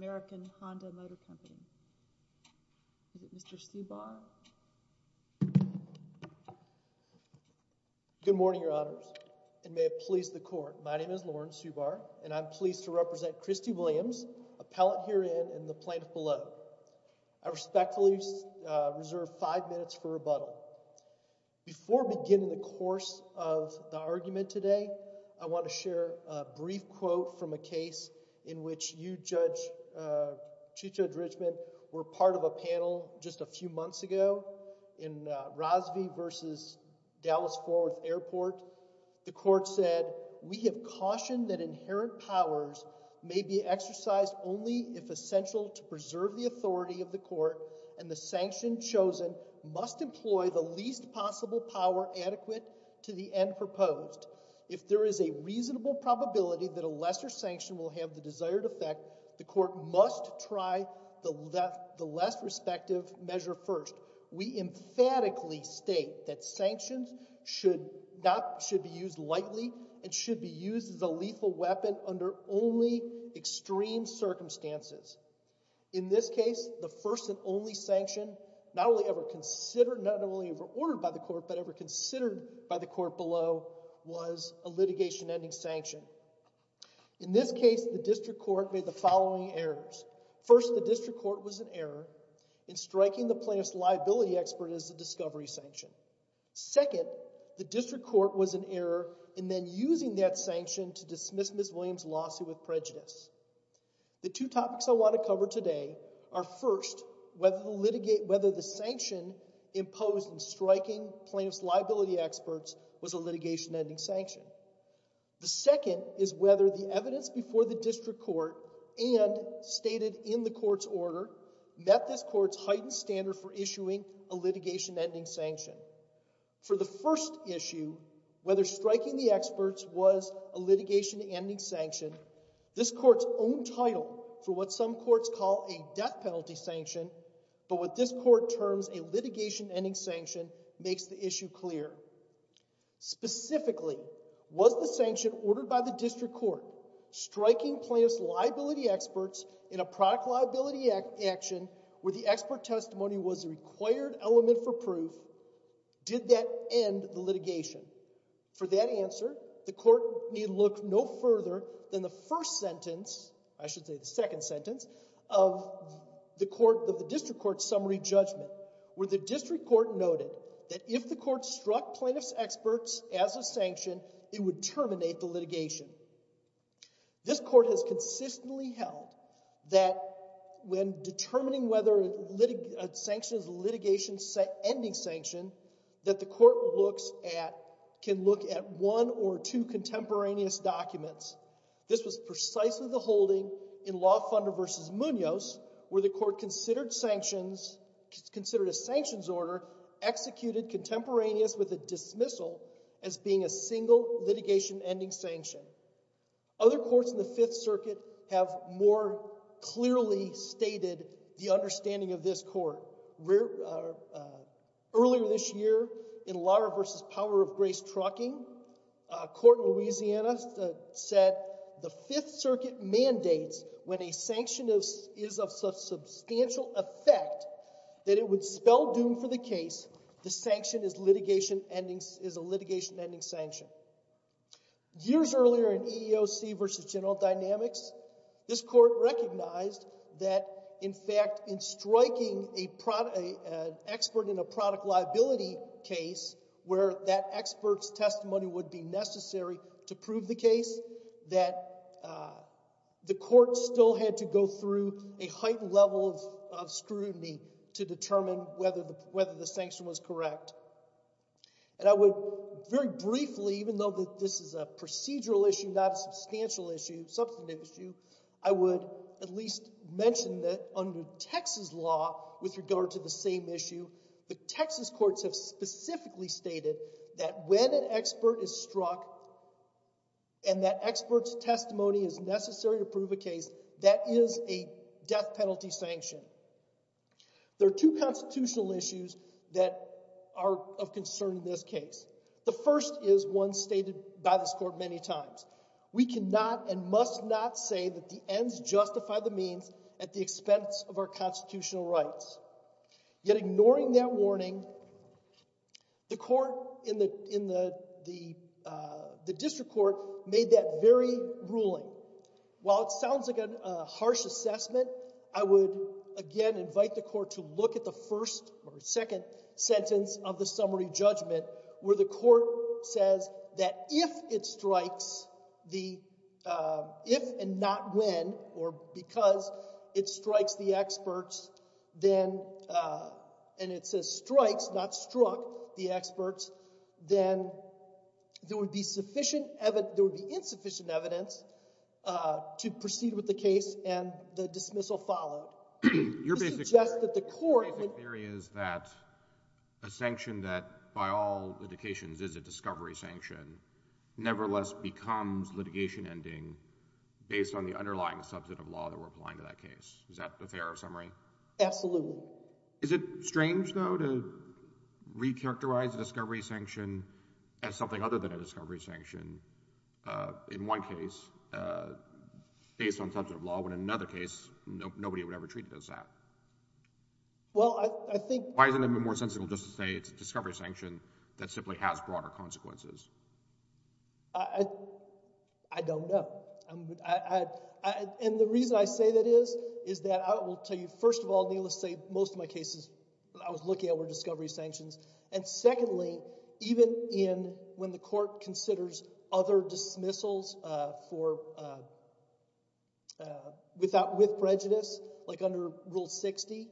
Motor Company. Is it Mr. Subar? Good morning, Your Honors. It may have pleased the court. My name is Lauren Subar, and I'm pleased to represent Christy Williams, appellate herein and the plaintiff below. I respectfully reserve five minutes for rebuttal. Before beginning the course of the argument today, I want to share a brief quote from a case in which you judge, Chief Judge Richmond, were part of a panel just a few months ago in Rosvie versus Dallas-Fort Worth Airport. The court said, we have cautioned that inherent powers may be exercised only if essential to preserve the authority of the court and the sanction chosen must employ the least possible power adequate to the end proposed. If there is a reasonable probability that a lesser sanction will have the desired effect, the court must try the less respective measure first. We emphatically state that sanctions should not should be used lightly and should be used as a lethal weapon under only extreme circumstances. In this case, the first and only sanction not only ever considered, not only ever ordered by the court, but ever considered by the court below was a litigation ending sanction. In this case, the district court made the following errors. First, the district court was in error in striking the plaintiff's liability expert as a discovery sanction. Second, the district court was in error in then using that sanction to dismiss Ms. Williams' lawsuit with prejudice. The two topics I want to cover today are, first, whether the sanction imposed in striking plaintiff's liability experts was a litigation ending sanction. The second is whether the evidence before the district court and stated in the court's order met this court's heightened standard for issuing a litigation ending sanction. For the first issue, whether striking the experts was a litigation ending sanction, this court's own title for what some courts call a death penalty sanction, but what this court terms a litigation ending sanction makes the issue clear. Specifically, was the sanction ordered by the district court striking plaintiff's liability experts in a product liability action where the expert testimony was a required element for proof, did that end the litigation? For that answer, the court need look no further than the first sentence, I should say the second sentence, of the district court's summary judgment where the district court noted that if the court struck plaintiff's experts as a sanction, it would terminate the litigation. This court has consistently held that when determining whether a sanction is a litigation ending sanction, that the court can look at one or two contemporaneous documents. This was precisely the holding in Law Funder versus Munoz where the court considered a sanctions order executed contemporaneous with a dismissal as being a single litigation ending sanction. Other courts in the Fifth Circuit have more clearly stated the understanding of this court. Earlier this year, in Lawyer versus Power of Grace Trucking, a court in Louisiana said the Fifth Circuit mandates when a sanction is of substantial effect that it would spell doom for the case, the sanction is a litigation ending sanction. Years earlier in EEOC versus General Dynamics, this court recognized that in fact in striking an expert in a product liability case where that expert's testimony would be necessary to prove the case, that the court still had to go through a heightened level of scrutiny to determine whether the sanction was correct. I would very briefly, even though this is a procedural issue, not a substantial issue, substantive issue, I would say that under Texas law, with regard to the same issue, the Texas courts have specifically stated that when an expert is struck and that expert's testimony is necessary to prove a case, that is a death penalty sanction. There are two constitutional issues that are of concern in this case. The first is one stated by this court many times. We cannot and must not say that the ends justify the means at the expense of our constitutional rights. Yet ignoring that warning, the court in the district court made that very ruling. While it sounds like a harsh assessment, I would again invite the court to look at the first or second sentence of the summary judgment where the court says that if it strikes the experts, if and not when or because it strikes the experts, then, and it says strikes, not struck the experts, then there would be insufficient evidence to proceed with the case and the dismissal followed. Your basic theory is that a sanction that by all litigations is a discovery sanction, nevertheless becomes litigation ending based on the underlying substantive law that we're applying to that case. Is that a fair summary? Absolutely. Is it strange, though, to recharacterize a discovery sanction as something other than a discovery sanction in one case based on substantive law when in another case nobody would ever treat it as that? Well, I think... Why isn't it more sensible just to say it's a discovery sanction that simply has broader consequences? I don't know. And the reason I say that is, is that I will tell you, first of all, most of my cases I was looking at were discovery sanctions. And secondly, even when the court considers other dismissals with prejudice, like under Rule 60,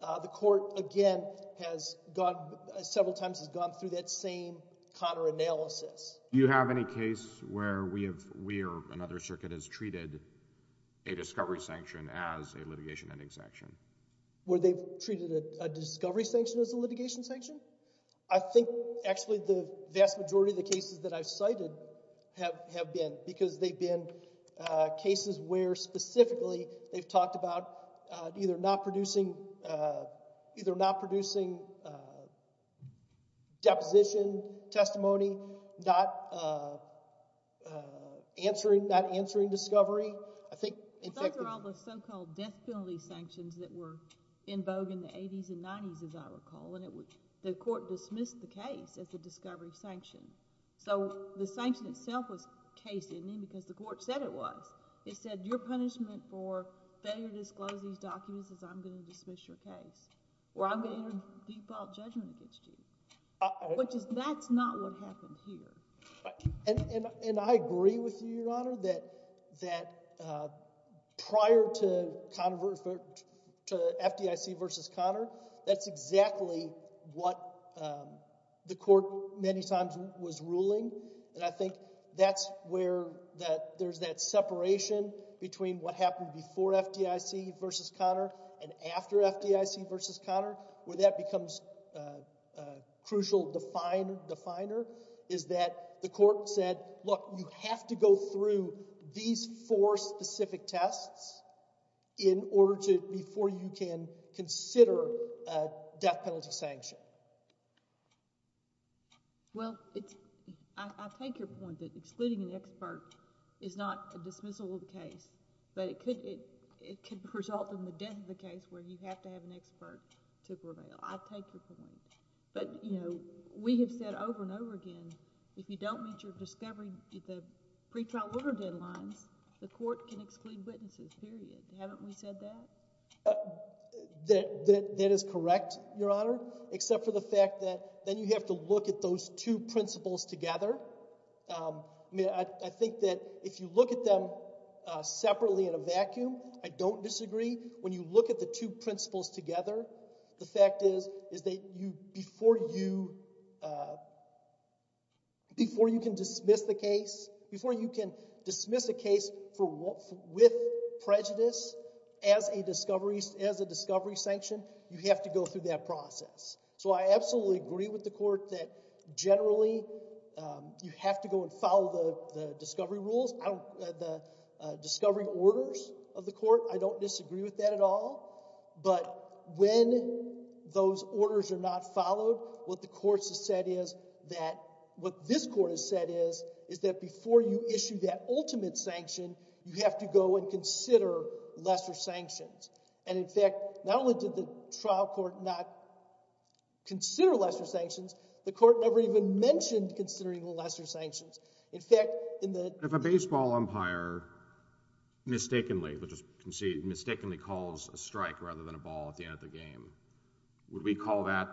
the court, again, has gone, several times has gone through that same counter-analysis. Do you have any case where we have, we or another circuit has treated a discovery sanction as a litigation ending sanction? Where they've treated a discovery sanction as a litigation sanction? I think, actually, the vast majority of the cases that I've cited have been, because they've been cases where specifically they've talked about either not producing, either not producing deposition testimony, not answering, not answering discovery. I think, in fact... Those are all the so-called death penalty sanctions that were in vogue in the 80s and 90s, as I recall, and it was, the court dismissed the case as a discovery sanction. So the sanction itself was case-ending because the court said it was. It said, your punishment for failure to disclose these documents is I'm going to dismiss your case, or I'm going to enter default judgment against you. Which is, that's not what happened here. And I agree with you, Your Honor, that prior to FDIC v. Conner, that's exactly what the court said. That's where there's that separation between what happened before FDIC v. Conner and after FDIC v. Conner, where that becomes a crucial definer, is that the court said, look, you have to go through these four specific tests in order to, before you can consider a death penalty sanction. Well, it's, I take your point that excluding an expert is not a dismissal of the case, but it could result in the death of the case where you have to have an expert to prevail. I take your point. But, you know, we have said over and over again, if you don't meet your discovery, the pretrial order deadlines, the court can exclude witnesses, period. Haven't we said that? That is correct, Your Honor, except for the fact that then you have to look at those two principles together. I think that if you look at them separately in a vacuum, I don't disagree. When you look at the two principles together, the fact is, is that before you can dismiss the case, before you can dismiss a case with prejudice as a discovery sanction, you have to go through that process. So I absolutely agree with the court that generally you have to go and follow the discovery rules, the discovery orders of the court. I don't disagree with that at all. But when those orders are not followed, what the court has said is that, what this court has said is, is that before you issue that ultimate sanction, you have to go and consider lesser sanctions. And in fact, not only did the trial court not consider lesser sanctions, the court never even mentioned considering lesser sanctions. In fact, in the... If a baseball umpire mistakenly, which is conceived, mistakenly calls a strike rather than a ball at the end of the game, would we call that,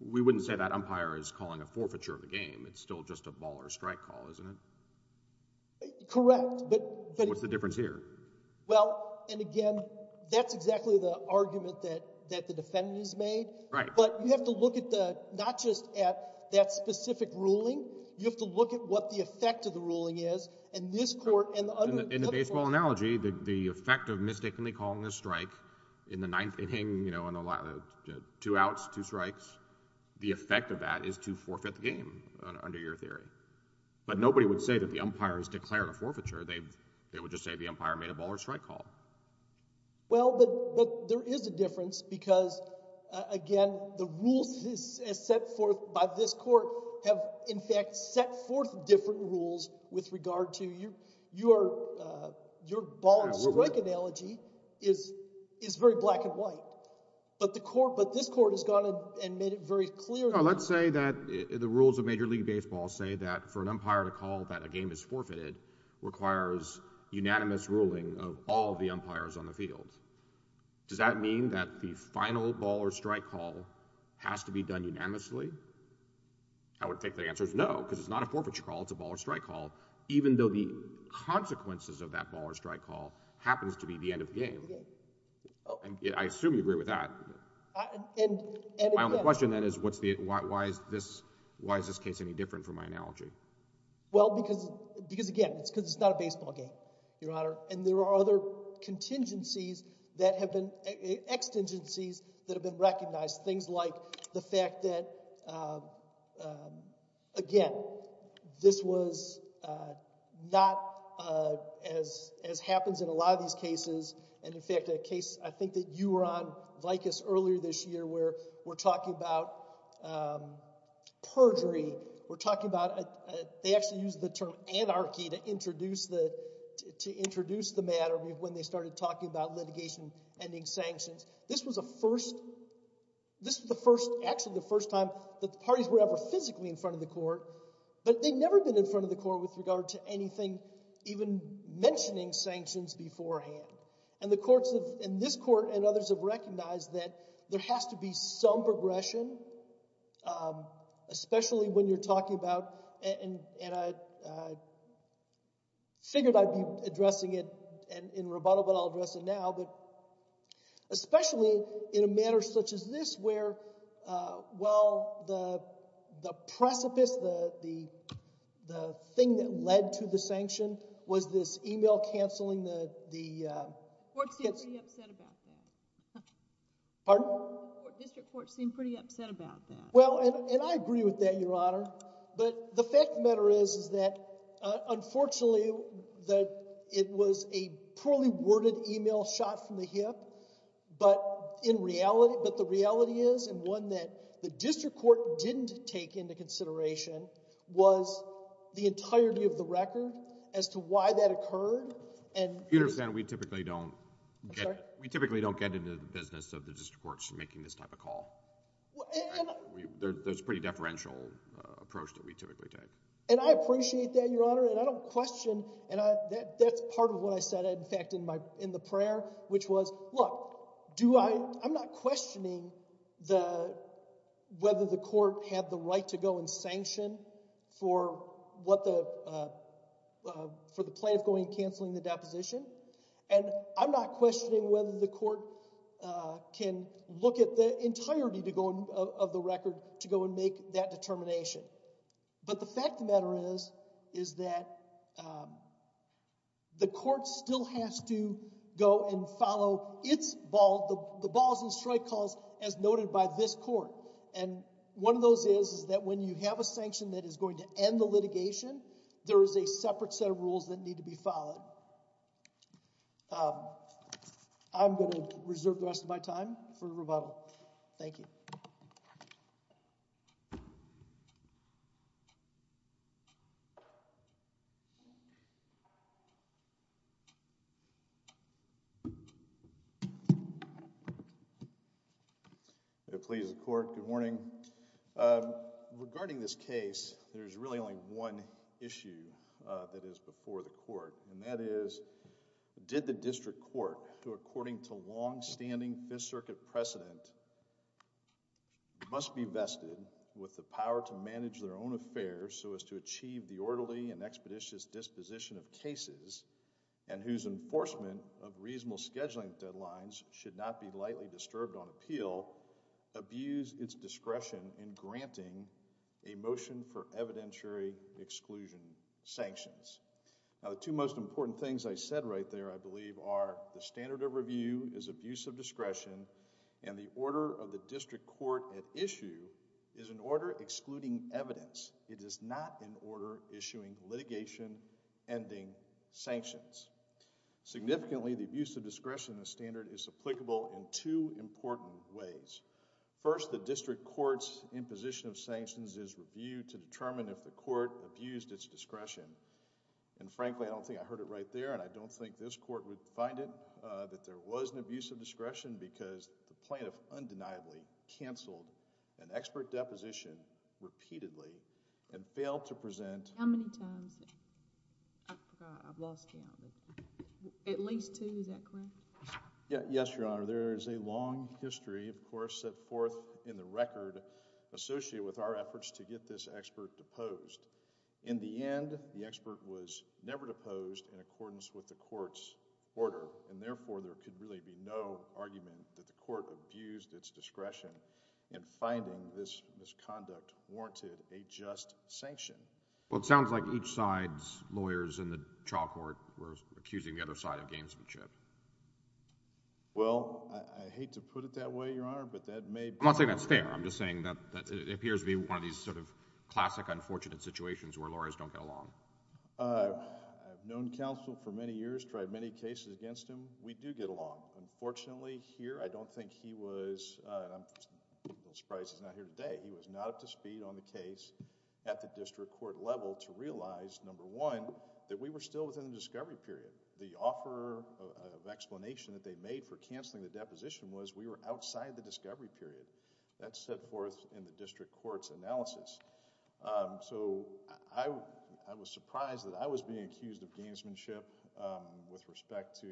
we wouldn't say that umpire is calling a forfeiture of the game. It's still just a ball or a strike call, isn't it? Correct, but... What's the difference here? Well, and again, that's exactly the argument that, that the defendant has made. Right. But you have to look at the, not just at that specific ruling, you have to look at what the effect of the ruling is, and this court and the other... In the baseball analogy, the effect of mistakenly calling a strike in the ninth inning, you have to look at what the effect of that is to forfeit the game, under your theory. But nobody would say that the umpire has declared a forfeiture, they would just say the umpire made a ball or strike call. Well, but there is a difference because, again, the rules as set forth by this court have in fact set forth different rules with regard to your ball and strike analogy is very black and white. But the court, but this court has gone and made it very clear... Now, let's say that the rules of Major League Baseball say that for an umpire to call that a game is forfeited requires unanimous ruling of all the umpires on the field. Does that mean that the final ball or strike call has to be done unanimously? I would think the answer is no, because it's not a forfeiture call, it's a ball or strike call, even though the consequences of that ball or strike call happens to be the end of the game. I assume you agree with that. My only question then is why is this case any different from my analogy? Well, because, again, it's because it's not a baseball game, Your Honor, and there are other contingencies that have been, extingencies, that have been recognized. Things like the fact that, again, this was not as happens in a lot of these cases, and if you look at the case, in fact, a case I think that you were on, Vicus, earlier this year where we're talking about perjury, we're talking about, they actually used the term anarchy to introduce the, to introduce the matter when they started talking about litigation ending sanctions. This was a first, this was the first, actually the first time that parties were ever physically in front of the court, but they've never been in front of the court with regard to anything even mentioning sanctions beforehand, and the courts have, and this court and others have recognized that there has to be some progression, especially when you're talking about, and I figured I'd be addressing it in rebuttal, but I'll address it now, but especially in a matter such as this where, well, the precipice, the thing that led to the sanction was this email canceling the, the, uh, court seemed pretty upset about that. Pardon? The district court seemed pretty upset about that. Well, and I agree with that, Your Honor, but the fact of the matter is, is that, unfortunately, that it was a poorly worded email shot from the hip, but in reality, but the reality is, and one that the district court didn't take into consideration, was the entirety of the record as to why that occurred, and. You understand we typically don't get, we typically don't get into the business of the district courts making this type of call. There's a pretty deferential approach that we typically take. And I appreciate that, Your Honor, and I don't question, and I, that, that's part of what I said, in fact, in my, in the prayer, which was, look, do I, I'm not questioning the, whether the court had the right to go and sanction for what the, uh, uh, for the plaintiff going and canceling the deposition, and I'm not questioning whether the court, uh, can look at the entirety to go, of the record to go and make that determination. But the fact of the matter is, is that, um, the court still has to go and follow its ball, the, the balls and strike calls as noted by this court. And one of those is, is that when you have a sanction that is going to end the litigation, there is a separate set of rules that need to be followed. Um, I'm going to reserve the rest of my time for rebuttal. Thank you. May it please the court, good morning. Um, regarding this case, there's really only one issue, uh, that is before the court, and that is, did the district court, who according to long-standing Fifth Circuit precedent, must be vested with the power to manage their own affairs so as to achieve the orderly and expeditious disposition of cases, and whose enforcement of reasonable scheduling deadlines should not be lightly disturbed on appeal, abuse its discretion in granting a motion for evidentiary exclusion sanctions. Now, the two most important things I said right there, I believe, are the standard of review is abuse of discretion, and the order of the district court at issue is an order excluding evidence. It is not an order issuing litigation ending sanctions. Significantly, the abuse of discretion in the standard is applicable in two important ways. First, the district court's imposition of sanctions is reviewed to determine if the court abused its discretion. And frankly, I don't think I heard it right there, and I don't think this court would find it, uh, that there was an abuse of discretion because the plaintiff undeniably canceled an expert deposition repeatedly and failed to present... How many times? I forgot. I've lost count. At least two. Is that correct? Yes, Your Honor. There is a long history, of course, set forth in the record associated with our efforts to get this expert deposed. In the end, the expert was never deposed in accordance with the court's order, and therefore, there could really be no argument that the court abused its discretion in finding this misconduct warranted a just sanction. Well, it sounds like each side's lawyers in the trial court were accusing the other side of gamesmanship. Well, I hate to put it that way, Your Honor, but that may be... I'm not saying that's fair. I'm just saying that it appears to be one of these sort of classic unfortunate situations where lawyers don't get along. Uh, I've known counsel for many years, tried many cases against him. We do get along. Unfortunately, here, I don't think he was... I'm surprised he's not here today. He was not up to speed on the case at the district court level to realize, number one, that we were still within the discovery period. The offer of explanation that they made for canceling the deposition was we were outside the discovery period. That's set forth in the district court's analysis. So, I was surprised that I was being accused of gamesmanship with respect to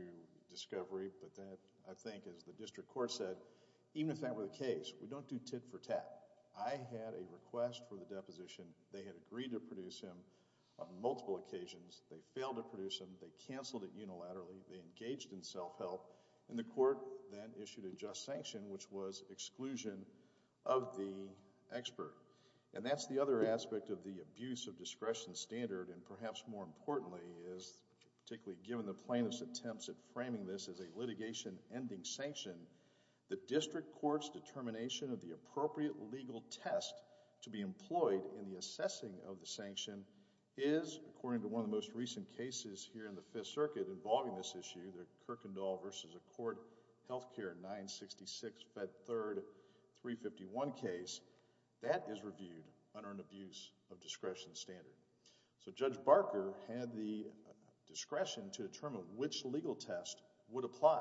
discovery, but that, I think, as the district court said, even if that were the case, we don't do tit for tat. I had a request for the deposition. They had agreed to produce him on multiple occasions. They failed to produce him. They canceled it unilaterally. They engaged in self-help, and the court then issued a just sanction, which was exclusion of the expert. And that's the other aspect of the abuse of discretion standard, and perhaps more importantly is, particularly given the plaintiff's attempts at framing this as a litigation ending sanction, the district court's determination of the appropriate legal test to be employed in the assessing of the sanction is, according to one of the most recent cases here in the Fifth Circuit involving this issue, the Kirkendall v. Court Health Care 966-Fed3-351 case, that is reviewed under an abuse of discretion standard. So, Judge Barker had the discretion to determine which legal test would apply,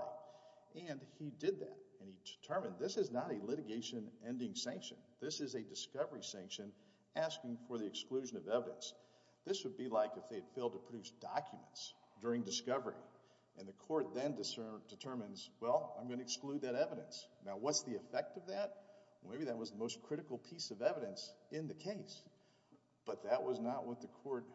and he did that, and he determined this is not a litigation ending sanction. This is a discovery sanction asking for the exclusion of evidence. This would be like if they had failed to produce documents during discovery, and the court then determines, well, I'm going to exclude that evidence. Now, what's the effect of that? Well, maybe that was the most critical piece of evidence in the case, but that was not what the court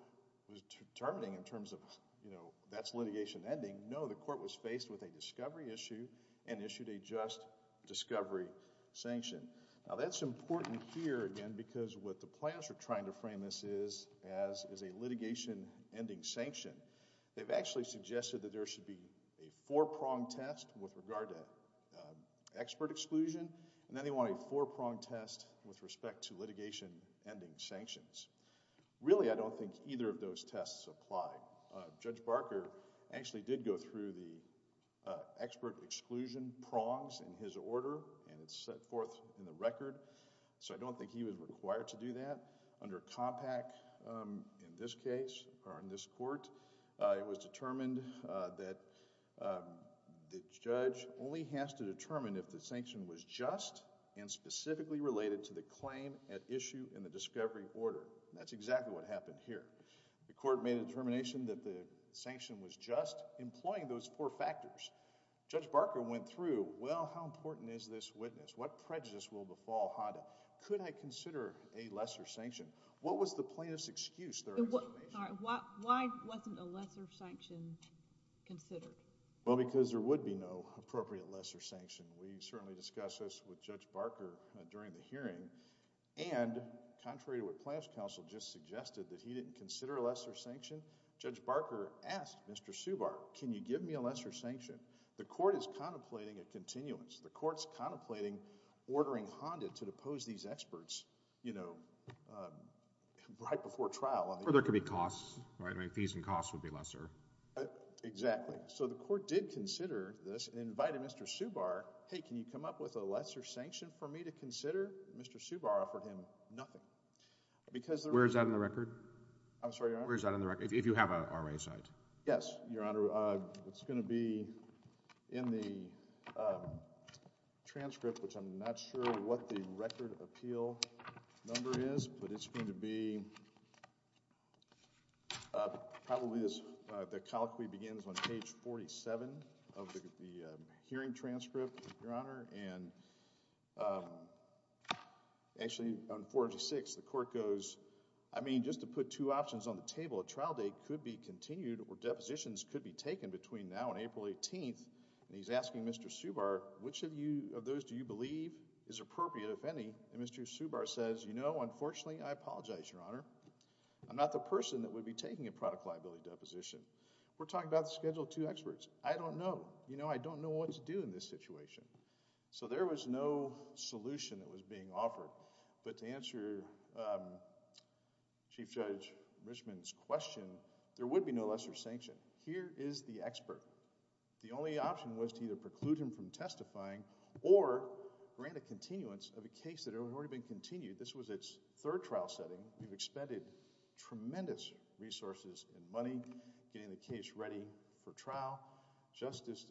was determining in terms of, you know, that's litigation ending. No, the court was faced with a discovery issue and issued a just discovery sanction. Now, that's important here, again, because what the plaintiffs are trying to frame this as is a litigation ending sanction. They've actually suggested that there should be a four-prong test with regard to expert exclusion, and then they want a four-prong test with respect to litigation ending sanctions. Really, I don't think either of those tests apply. Judge Barker actually did go through the expert exclusion prongs in his order, and it's set forth in the record, so I don't think he was required to do that. Under Compact, in this case, or in this court, it was determined that the judge only has to determine if the sanction was just and specifically related to the claim at issue in the discovery order. That's exactly what happened here. The court made a determination that the sanction was just, employing those four factors. Judge Barker went through, well, how important is this witness? What prejudice will befall Honda? Could I consider a lesser sanction? What was the plaintiff's excuse? Why wasn't a lesser sanction considered? Well, because there would be no appropriate lesser sanction. We certainly discussed this with Judge Barker during the hearing, and contrary to what Plaintiff's Counsel just suggested, that he didn't consider a lesser sanction, Judge Barker asked Mr. Subar, can you give me a lesser sanction? The court is contemplating a continuance. The court's contemplating ordering Honda to depose these experts, you know, right before trial. Or there could be costs, right? Fees and costs would be lesser. Exactly. So the court did consider this, and invited Mr. Subar, hey, can you come up with a lesser sanction for me to consider? Mr. Subar offered him nothing. Where is that in the record? I'm sorry, Your Honor? Where is that in the record, if you have an RA site? Yes, Your Honor. It's going to be in the transcript, which I'm not sure what the record appeal number is, but it's going to be probably, the colloquy begins on page 47 of the hearing transcript, Your Honor. And actually, on page 46, the court goes, well, a trial date could be continued or depositions could be taken between now and April 18th. And he's asking Mr. Subar, which of those do you believe is appropriate, if any? And Mr. Subar says, you know, unfortunately, I apologize, Your Honor. I'm not the person that would be taking a product liability deposition. We're talking about the Schedule II experts. I don't know. You know, I don't know what to do in this situation. So there was no solution that was being offered. But to answer Chief Judge Richman's question, there would be no lesser sanction. Here is the expert. The only option was to either preclude him from testifying or grant a continuance of a case that had already been continued. This was its third trial setting. We've expended tremendous resources and money getting the case ready for trial. Justice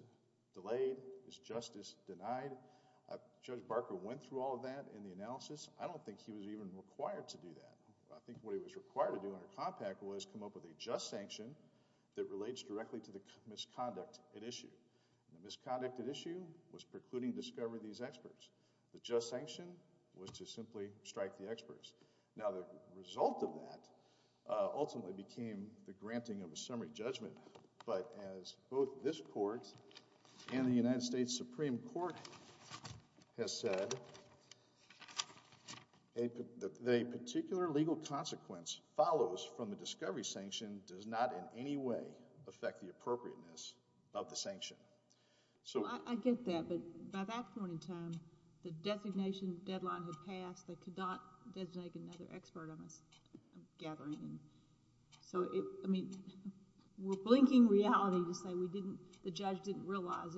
delayed. Is justice denied? Judge Barker went through all of that in the analysis. I don't think he was even required to do that. I think what he was required to do under Compact was come up with a just sanction that relates directly to the misconduct at issue. The misconduct at issue was precluding discovery of these experts. The just sanction was to simply strike the experts. Now, the result of that ultimately became the granting of a summary judgment. But as both this Court and the United States Supreme Court has said, a particular legal consequence follows from the discovery sanction does not in any way affect the appropriateness of the sanction. I get that. But by that point in time, the designation deadline had passed. They could not designate another expert on this gathering. So, I mean, we're blinking reality to say the judge didn't realize,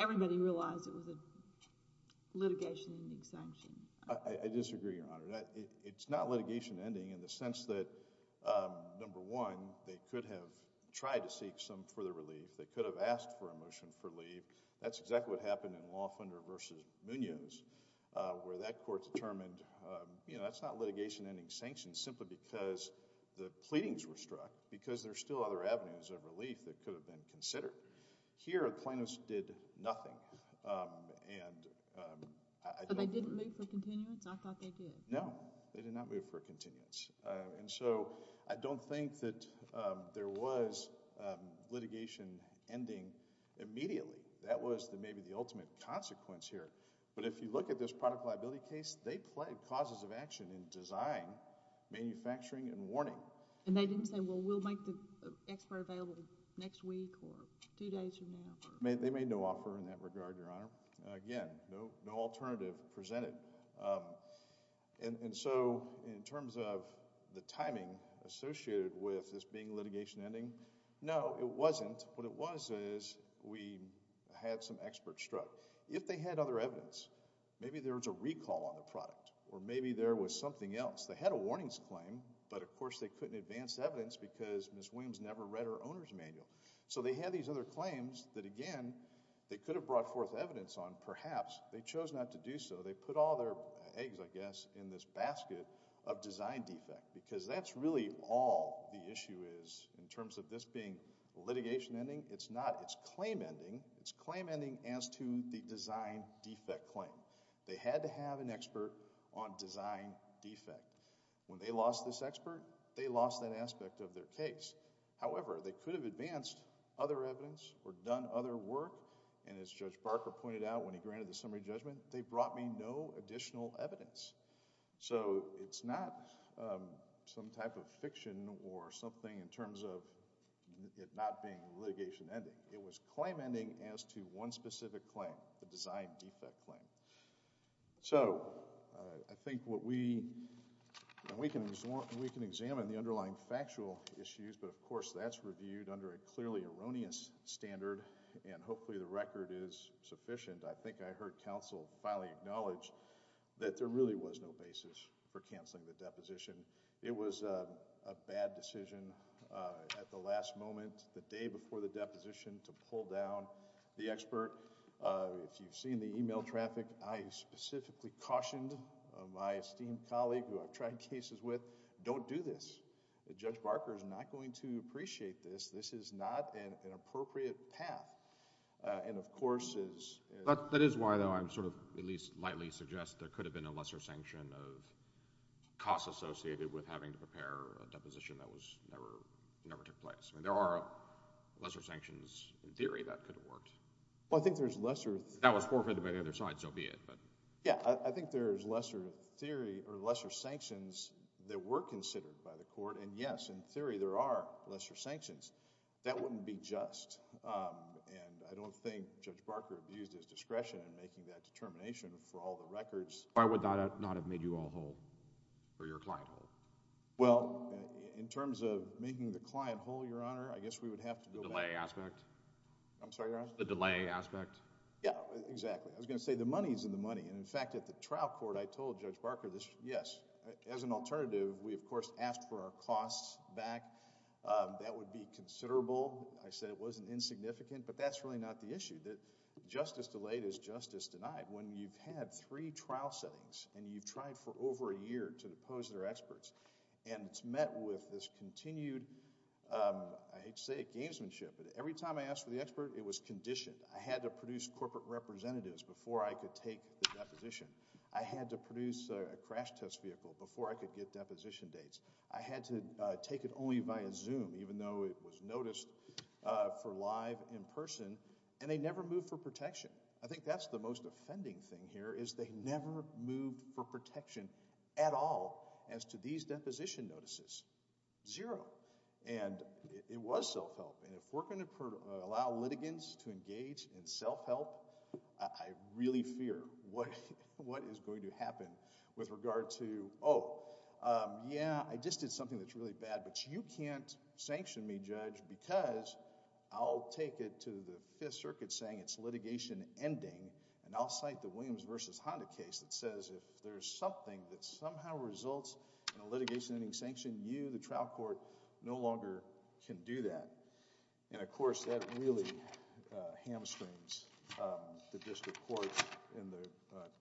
everybody realized it was a litigation ending sanction. I disagree, Your Honor. It's not litigation ending in the sense that, number one, they could have tried to seek some further relief. They could have asked for a motion for leave. That's exactly what happened in Lawfender v. Munoz where that Court determined that's not litigation ending sanction simply because the pleadings were struck because there are still other avenues of relief that could have been considered. Here, plaintiffs did nothing. And I don't... But they didn't move for continuance? I thought they did. No, they did not move for continuance. And so, I don't think that there was litigation ending immediately. That was maybe the ultimate consequence here. But if you look at this product liability case, they played causes of action in design, manufacturing, and warning. And they didn't say, well, we'll make the expert available next week or two days from now. They made no offer in that regard, Your Honor. Again, no alternative presented. And so, in terms of the timing associated with this being litigation ending, no, it wasn't. What it was is we had some experts struck. If they had other evidence, maybe there was a recall on the product or maybe there was something else. They had a warnings claim, but of course they couldn't advance evidence because Ms. Williams never read her owner's manual. So they had these other claims that, again, they could have brought forth evidence on. Perhaps they chose not to do so. They put all their eggs, I guess, in this basket of design defect. Because that's really all the issue is in terms of this being litigation ending. It's not. It's claim ending. It's claim ending as to the design defect claim. They had to have an expert on design defect. When they lost this expert, they lost that aspect of their case. However, they could have advanced other evidence or done other work and as Judge Barker pointed out when he granted the summary judgment, they brought me no additional evidence. So, it's not some type of fiction or something in terms of it not being litigation ending. It was claim ending as to one specific claim, the design defect claim. So, I think what we can examine the underlying factual issues, but of course that's reviewed under a clearly erroneous standard and hopefully the record is sufficient. I think I heard counsel finally acknowledge that there really was no basis for canceling the deposition. It was a bad decision at the last moment the day before the deposition to pull down the expert. If you've seen the email traffic, I specifically cautioned my esteemed colleague who I've tried cases with, don't do this. Judge Barker is not going to appreciate this. This is not an appropriate path and of course is... That is why though I'm sort of at least lightly suggest there could have been a lesser sanction of cost associated with having to prepare a deposition that was never took place. There are lesser sanctions in theory that could have worked. That was forfeited by the other side so be it. I think there's lesser sanctions that were considered by the court and yes, in theory there are lesser sanctions. That wouldn't be just and I don't think Judge Barker abused his discretion in making that determination for all the records. Why would that not have made you all whole? Well, in terms of making the client whole, Your Honor, I guess we would have to... The delay aspect? Yeah, exactly. I was going to say the money is in the money. In fact, at the trial court I told Judge Barker yes, as an alternative we of course asked for our costs back. That would be considerable. I said it wasn't insignificant but that's really not the issue. Justice delayed is justice denied. When you've had three trial settings and you've tried for over a year to depose their experts and it's met with this continued I hate to say it, gamesmanship. Every time I asked for the expert it was conditioned. I had to produce corporate representatives before I could take the deposition. I had to produce a crash test vehicle before I could get deposition dates. I had to take it only via Zoom even though it was noticed for live in person and they never moved for protection. I think that's the most offending thing here is they never moved for protection at all as to these deposition notices. Zero. It was self-help and if we're going to allow litigants to engage in self-help I really fear what is going to happen with regard to oh, yeah I just did something that's really bad but you can't sanction me Judge because I'll take it to the Fifth Circuit saying it's litigation ending and I'll cite the Williams versus Honda case that says if there's something that somehow results in a litigation ending sanction you, the trial court, no longer can do that and of course that really hamstrings the district court in the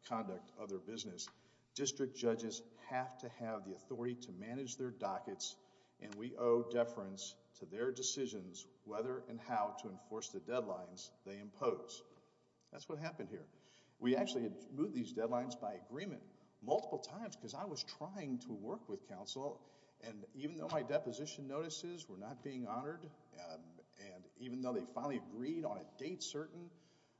conduct of their business. District judges have to have the authority to manage their dockets and we owe deference to their decisions whether and how to enforce the deadlines they impose. That's what happened here. We actually had to do these deadlines by agreement multiple times because I was trying to work with counsel and even though my deposition notices were not being honored and even though they finally agreed on a date certain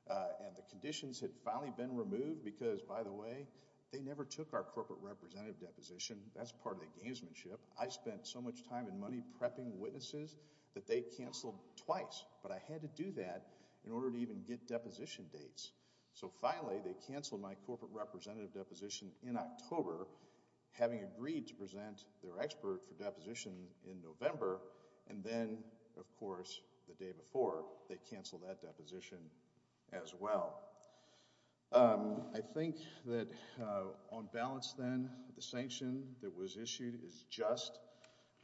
and the conditions had finally been removed because by the way they never took our corporate representative deposition. That's part of the gamesmanship. I spent so much time and money prepping witnesses that they canceled twice but I had to do that in order to even get deposition dates so finally they canceled my corporate representative deposition in October having agreed to present their expert for deposition in November and then of course the day before they canceled that deposition as well. I think that on balance then the sanction that was issued is just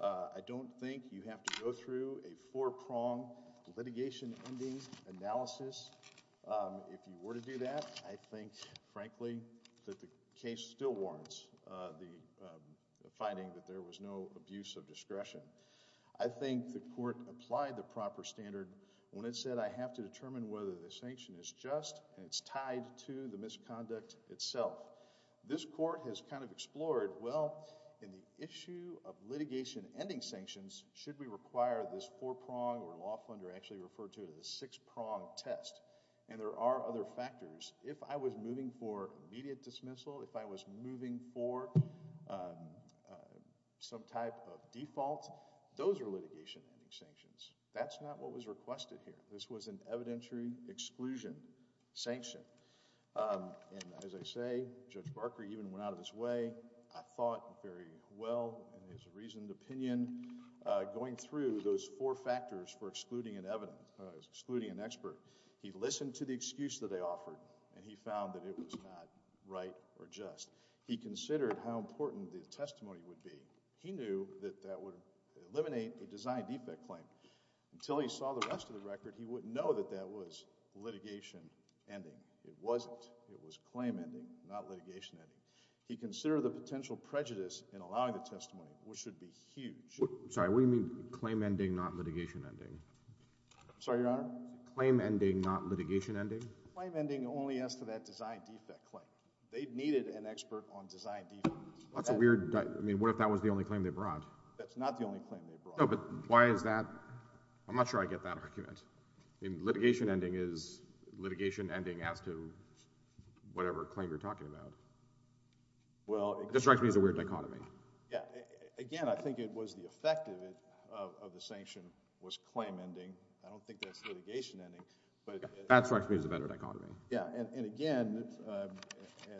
I don't think you have to go through a four prong litigation ending analysis if you were to do that I think frankly that the case still warrants the finding that there was no abuse of discretion. I think the court applied the proper standard when it said I have to determine whether the sanction is just and it's tied to the misconduct itself. This court has kind of explored well in the issue of litigation ending sanctions should we require this four prong or law funder I actually refer to it as six prong test and there are other factors if I was moving for immediate dismissal, if I was moving for some type of default those are litigation ending sanctions that's not what was requested here. This was an evidentiary exclusion sanction and as I say Judge Barker even went out of his way I thought very well in his reasoned opinion going through those four factors for excluding an expert he listened to the excuse that they offered and he found that it was not right or just. He considered how important the testimony would be he knew that that would eliminate a design defect claim until he saw the rest of the record he wouldn't know that that was litigation ending. It wasn't. It was claim ending not litigation ending. He considered the potential prejudice in allowing the testimony which should be huge. Sorry what do you mean claim ending not litigation ending? I'm sorry your honor? Claim ending not litigation ending? Claim ending only as to that design defect claim. They needed an expert on design defect. That's a weird, I mean what if that was the only claim they brought? That's not the only claim they brought. No but why is that? I'm not sure I get that argument. I mean litigation ending is litigation ending as to whatever claim you're talking about. This strikes me as a weird dichotomy. Again I think it was the effect of the sanction was claim ending. I don't think that's litigation ending. That strikes me as a better dichotomy. Again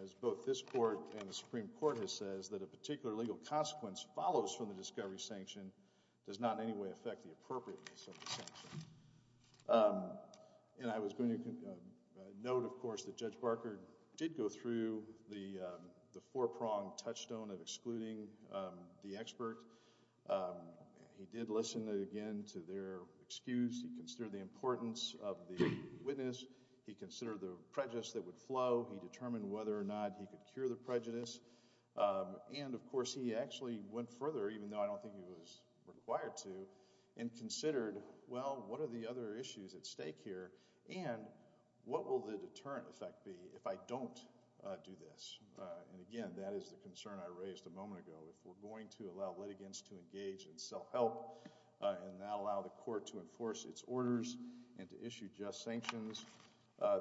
as both this court and the Supreme Court has says that a particular legal consequence follows from the discovery sanction does not in any way affect the appropriateness of the sanction. I was going to note of course that Judge Barker did go through the four pronged touchstone of excluding the expert. He did listen again to their excuse. He considered the importance of the witness. He considered the prejudice that would flow. He determined whether or not he could cure the prejudice. Of course he actually went further even though I don't think he was required to and considered well what are the other issues at stake here and what will the deterrent effect be if I don't do this. Again that is the concern I raised a moment ago. If we're going to allow litigants to engage in self help and not allow the court to enforce its orders and to issue just sanctions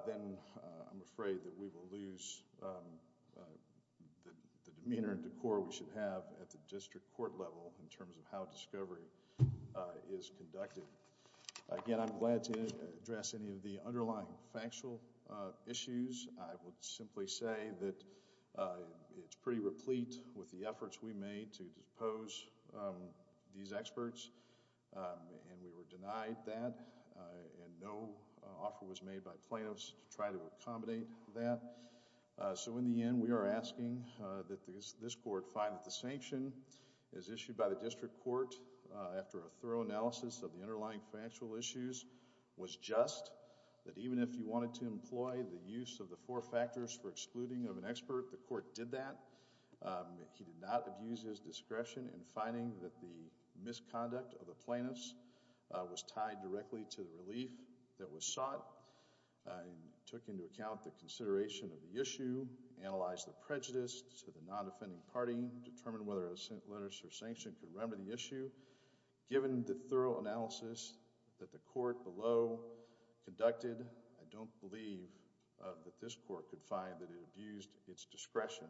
then I'm afraid that we will lose the demeanor and decor we should have at the district court level in terms of how discovery is conducted. Again I'm glad to address any of the underlying factual issues. I would simply say that it's pretty replete with the efforts we made to depose these experts and we were denied that and no offer was made by plaintiffs to try to accommodate that. So in the end we are asking that this court find that the sanction is issued by the district court after a thorough analysis of the underlying factual issues was just that even if you wanted to employ the use of the four factors for excluding of an expert, the court did that. He did not abuse his discretion in finding that the misconduct of the plaintiffs was tied directly to the relief that was sought. He took into account the consideration of the issue, analyzed the prejudice to the non-defending party determined whether a letter of sanction could remember the issue. Given the thorough analysis that the court below conducted, I don't believe that this court could find that it abused its discretion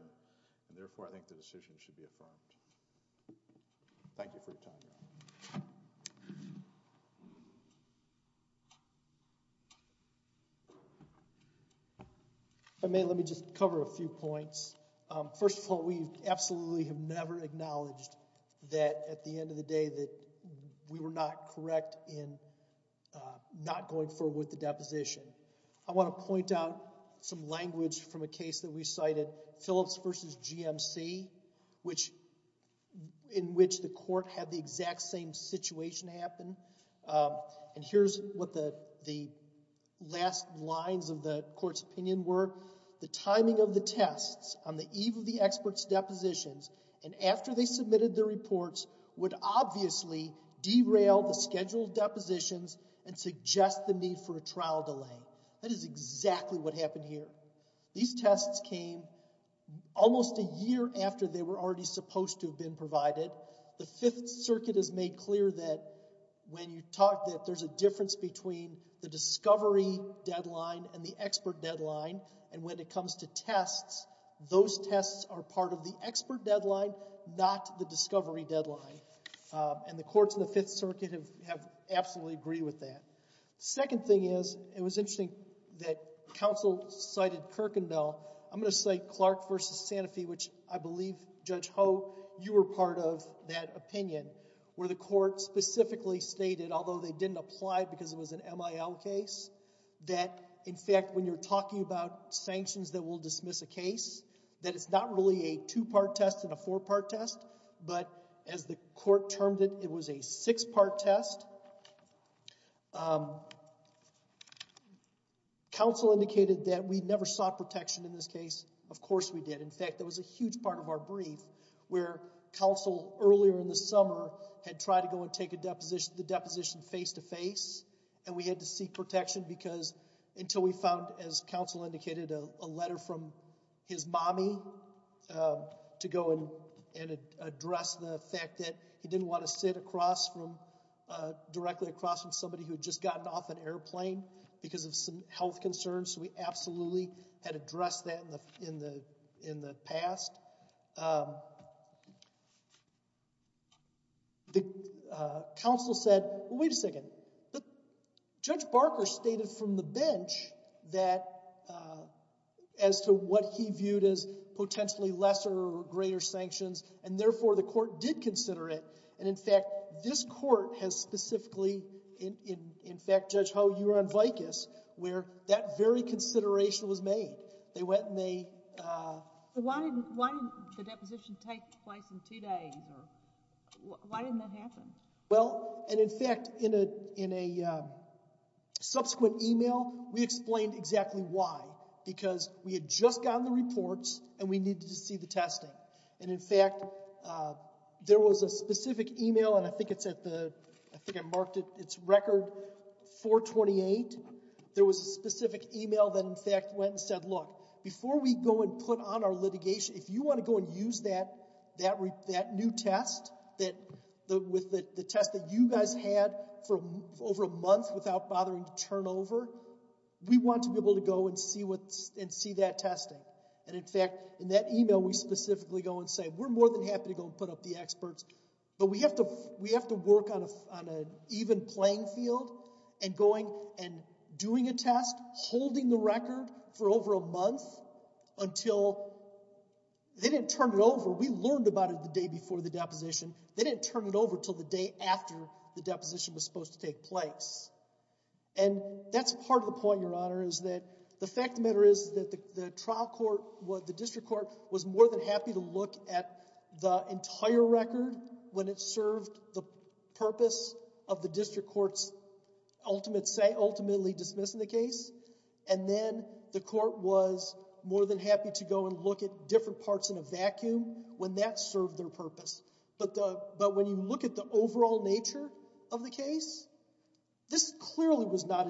and therefore I think the decision should be affirmed. Thank you for your time. If I may, let me just cover a few points. First of all, we absolutely have never acknowledged that at the end of the day that we were not correct in not going forward with the deposition. I want to point out some language from a case that we cited, Phillips vs. GMC, which in which the court had the exact same situation happen and here's what the last lines of the court's opinion were the timing of the tests on the eve of the expert's depositions and after they submitted their testimony, derail the scheduled depositions and suggest the need for a trial delay. That is exactly what happened here. These tests came almost a year after they were already supposed to have been provided. The Fifth Circuit has made clear that when you talk that there's a difference between the discovery deadline and the expert deadline and when it comes to tests those tests are part of the expert deadline, not the discovery deadline and the courts in the Fifth Circuit have absolutely agreed with that. Second thing is it was interesting that counsel cited Kirkendall I'm going to say Clark vs. Sanofi which I believe Judge Ho you were part of that opinion where the court specifically stated although they didn't apply because it was an MIL case that in fact when you're talking about sanctions that will dismiss a case that it's not really a two part test and a four part test but as the court termed it, it was a six part test um counsel indicated that we never sought protection in this case of course we did. In fact there was a huge part of our brief where counsel earlier in the summer had tried to go and take the deposition face to face and we had to seek protection because until we found as counsel indicated a letter from his mommy to go and address the fact that he didn't want to sit across from directly across from somebody who had just gotten off an airplane because of some health concerns so we absolutely had addressed that in the past um the counsel said wait a second Judge Barker stated from the bench that as to what he viewed as potentially lesser or greater sanctions and therefore the court did consider it and in fact this court has specifically in fact Judge Howe you were on Vicus where that very consideration was made they went and they why didn't the deposition take place in two days why didn't that happen well and in fact in a subsequent email we explained exactly why because we had just gotten the reports and we needed to see the testing and in fact there was a specific email and I think it's at the it's record 428 there was a specific email that in fact went and said look before we go and put on our litigation if you want to go and use that that new test that with the test that you guys had for over a month without bothering to turn over we want to be able to go and see that testing and in fact in that email we specifically go and say we're more than happy to go and put up the experts but we have to work on an even playing field and going and doing a test holding the record for over a month until they didn't turn it over we learned about it the day before the deposition they didn't turn it over until the day after the deposition was supposed to take place and that's part of the point your honor is that the fact of the matter is that the trial court the district court was more than happy to look at the entire record when it served the purpose of the district courts ultimate say ultimately dismissing the case and then the court was more than happy to go and look at different parts in a vacuum when that served their purpose but when you look at the overall nature of the case this clearly was not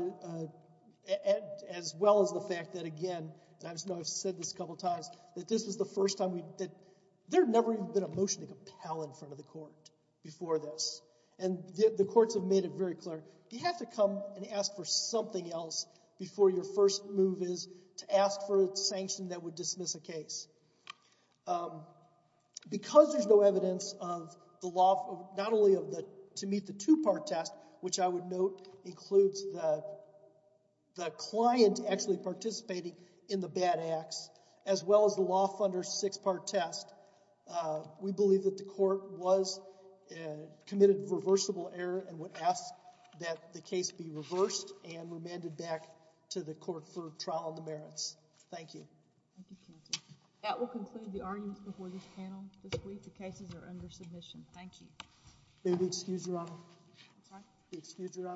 as well as the fact that again I know I've said this a couple times that this was the first time we there never even been a motion to compel in front of the court before this and the courts have made it very clear you have to come and ask for something else before your first move is to ask for sanction that would dismiss a case um because there's no evidence of the law not only of the two part test which I would note includes the the client actually participating in the bad acts as well as the law funder six part test uh we believe that the court was committed reversible error and would ask that the case be reversed and remanded back to the court for trial on the merits thank you that will conclude the arguments before this panel this week the cases are under submission thank you may we excuse your honor may we excuse your honor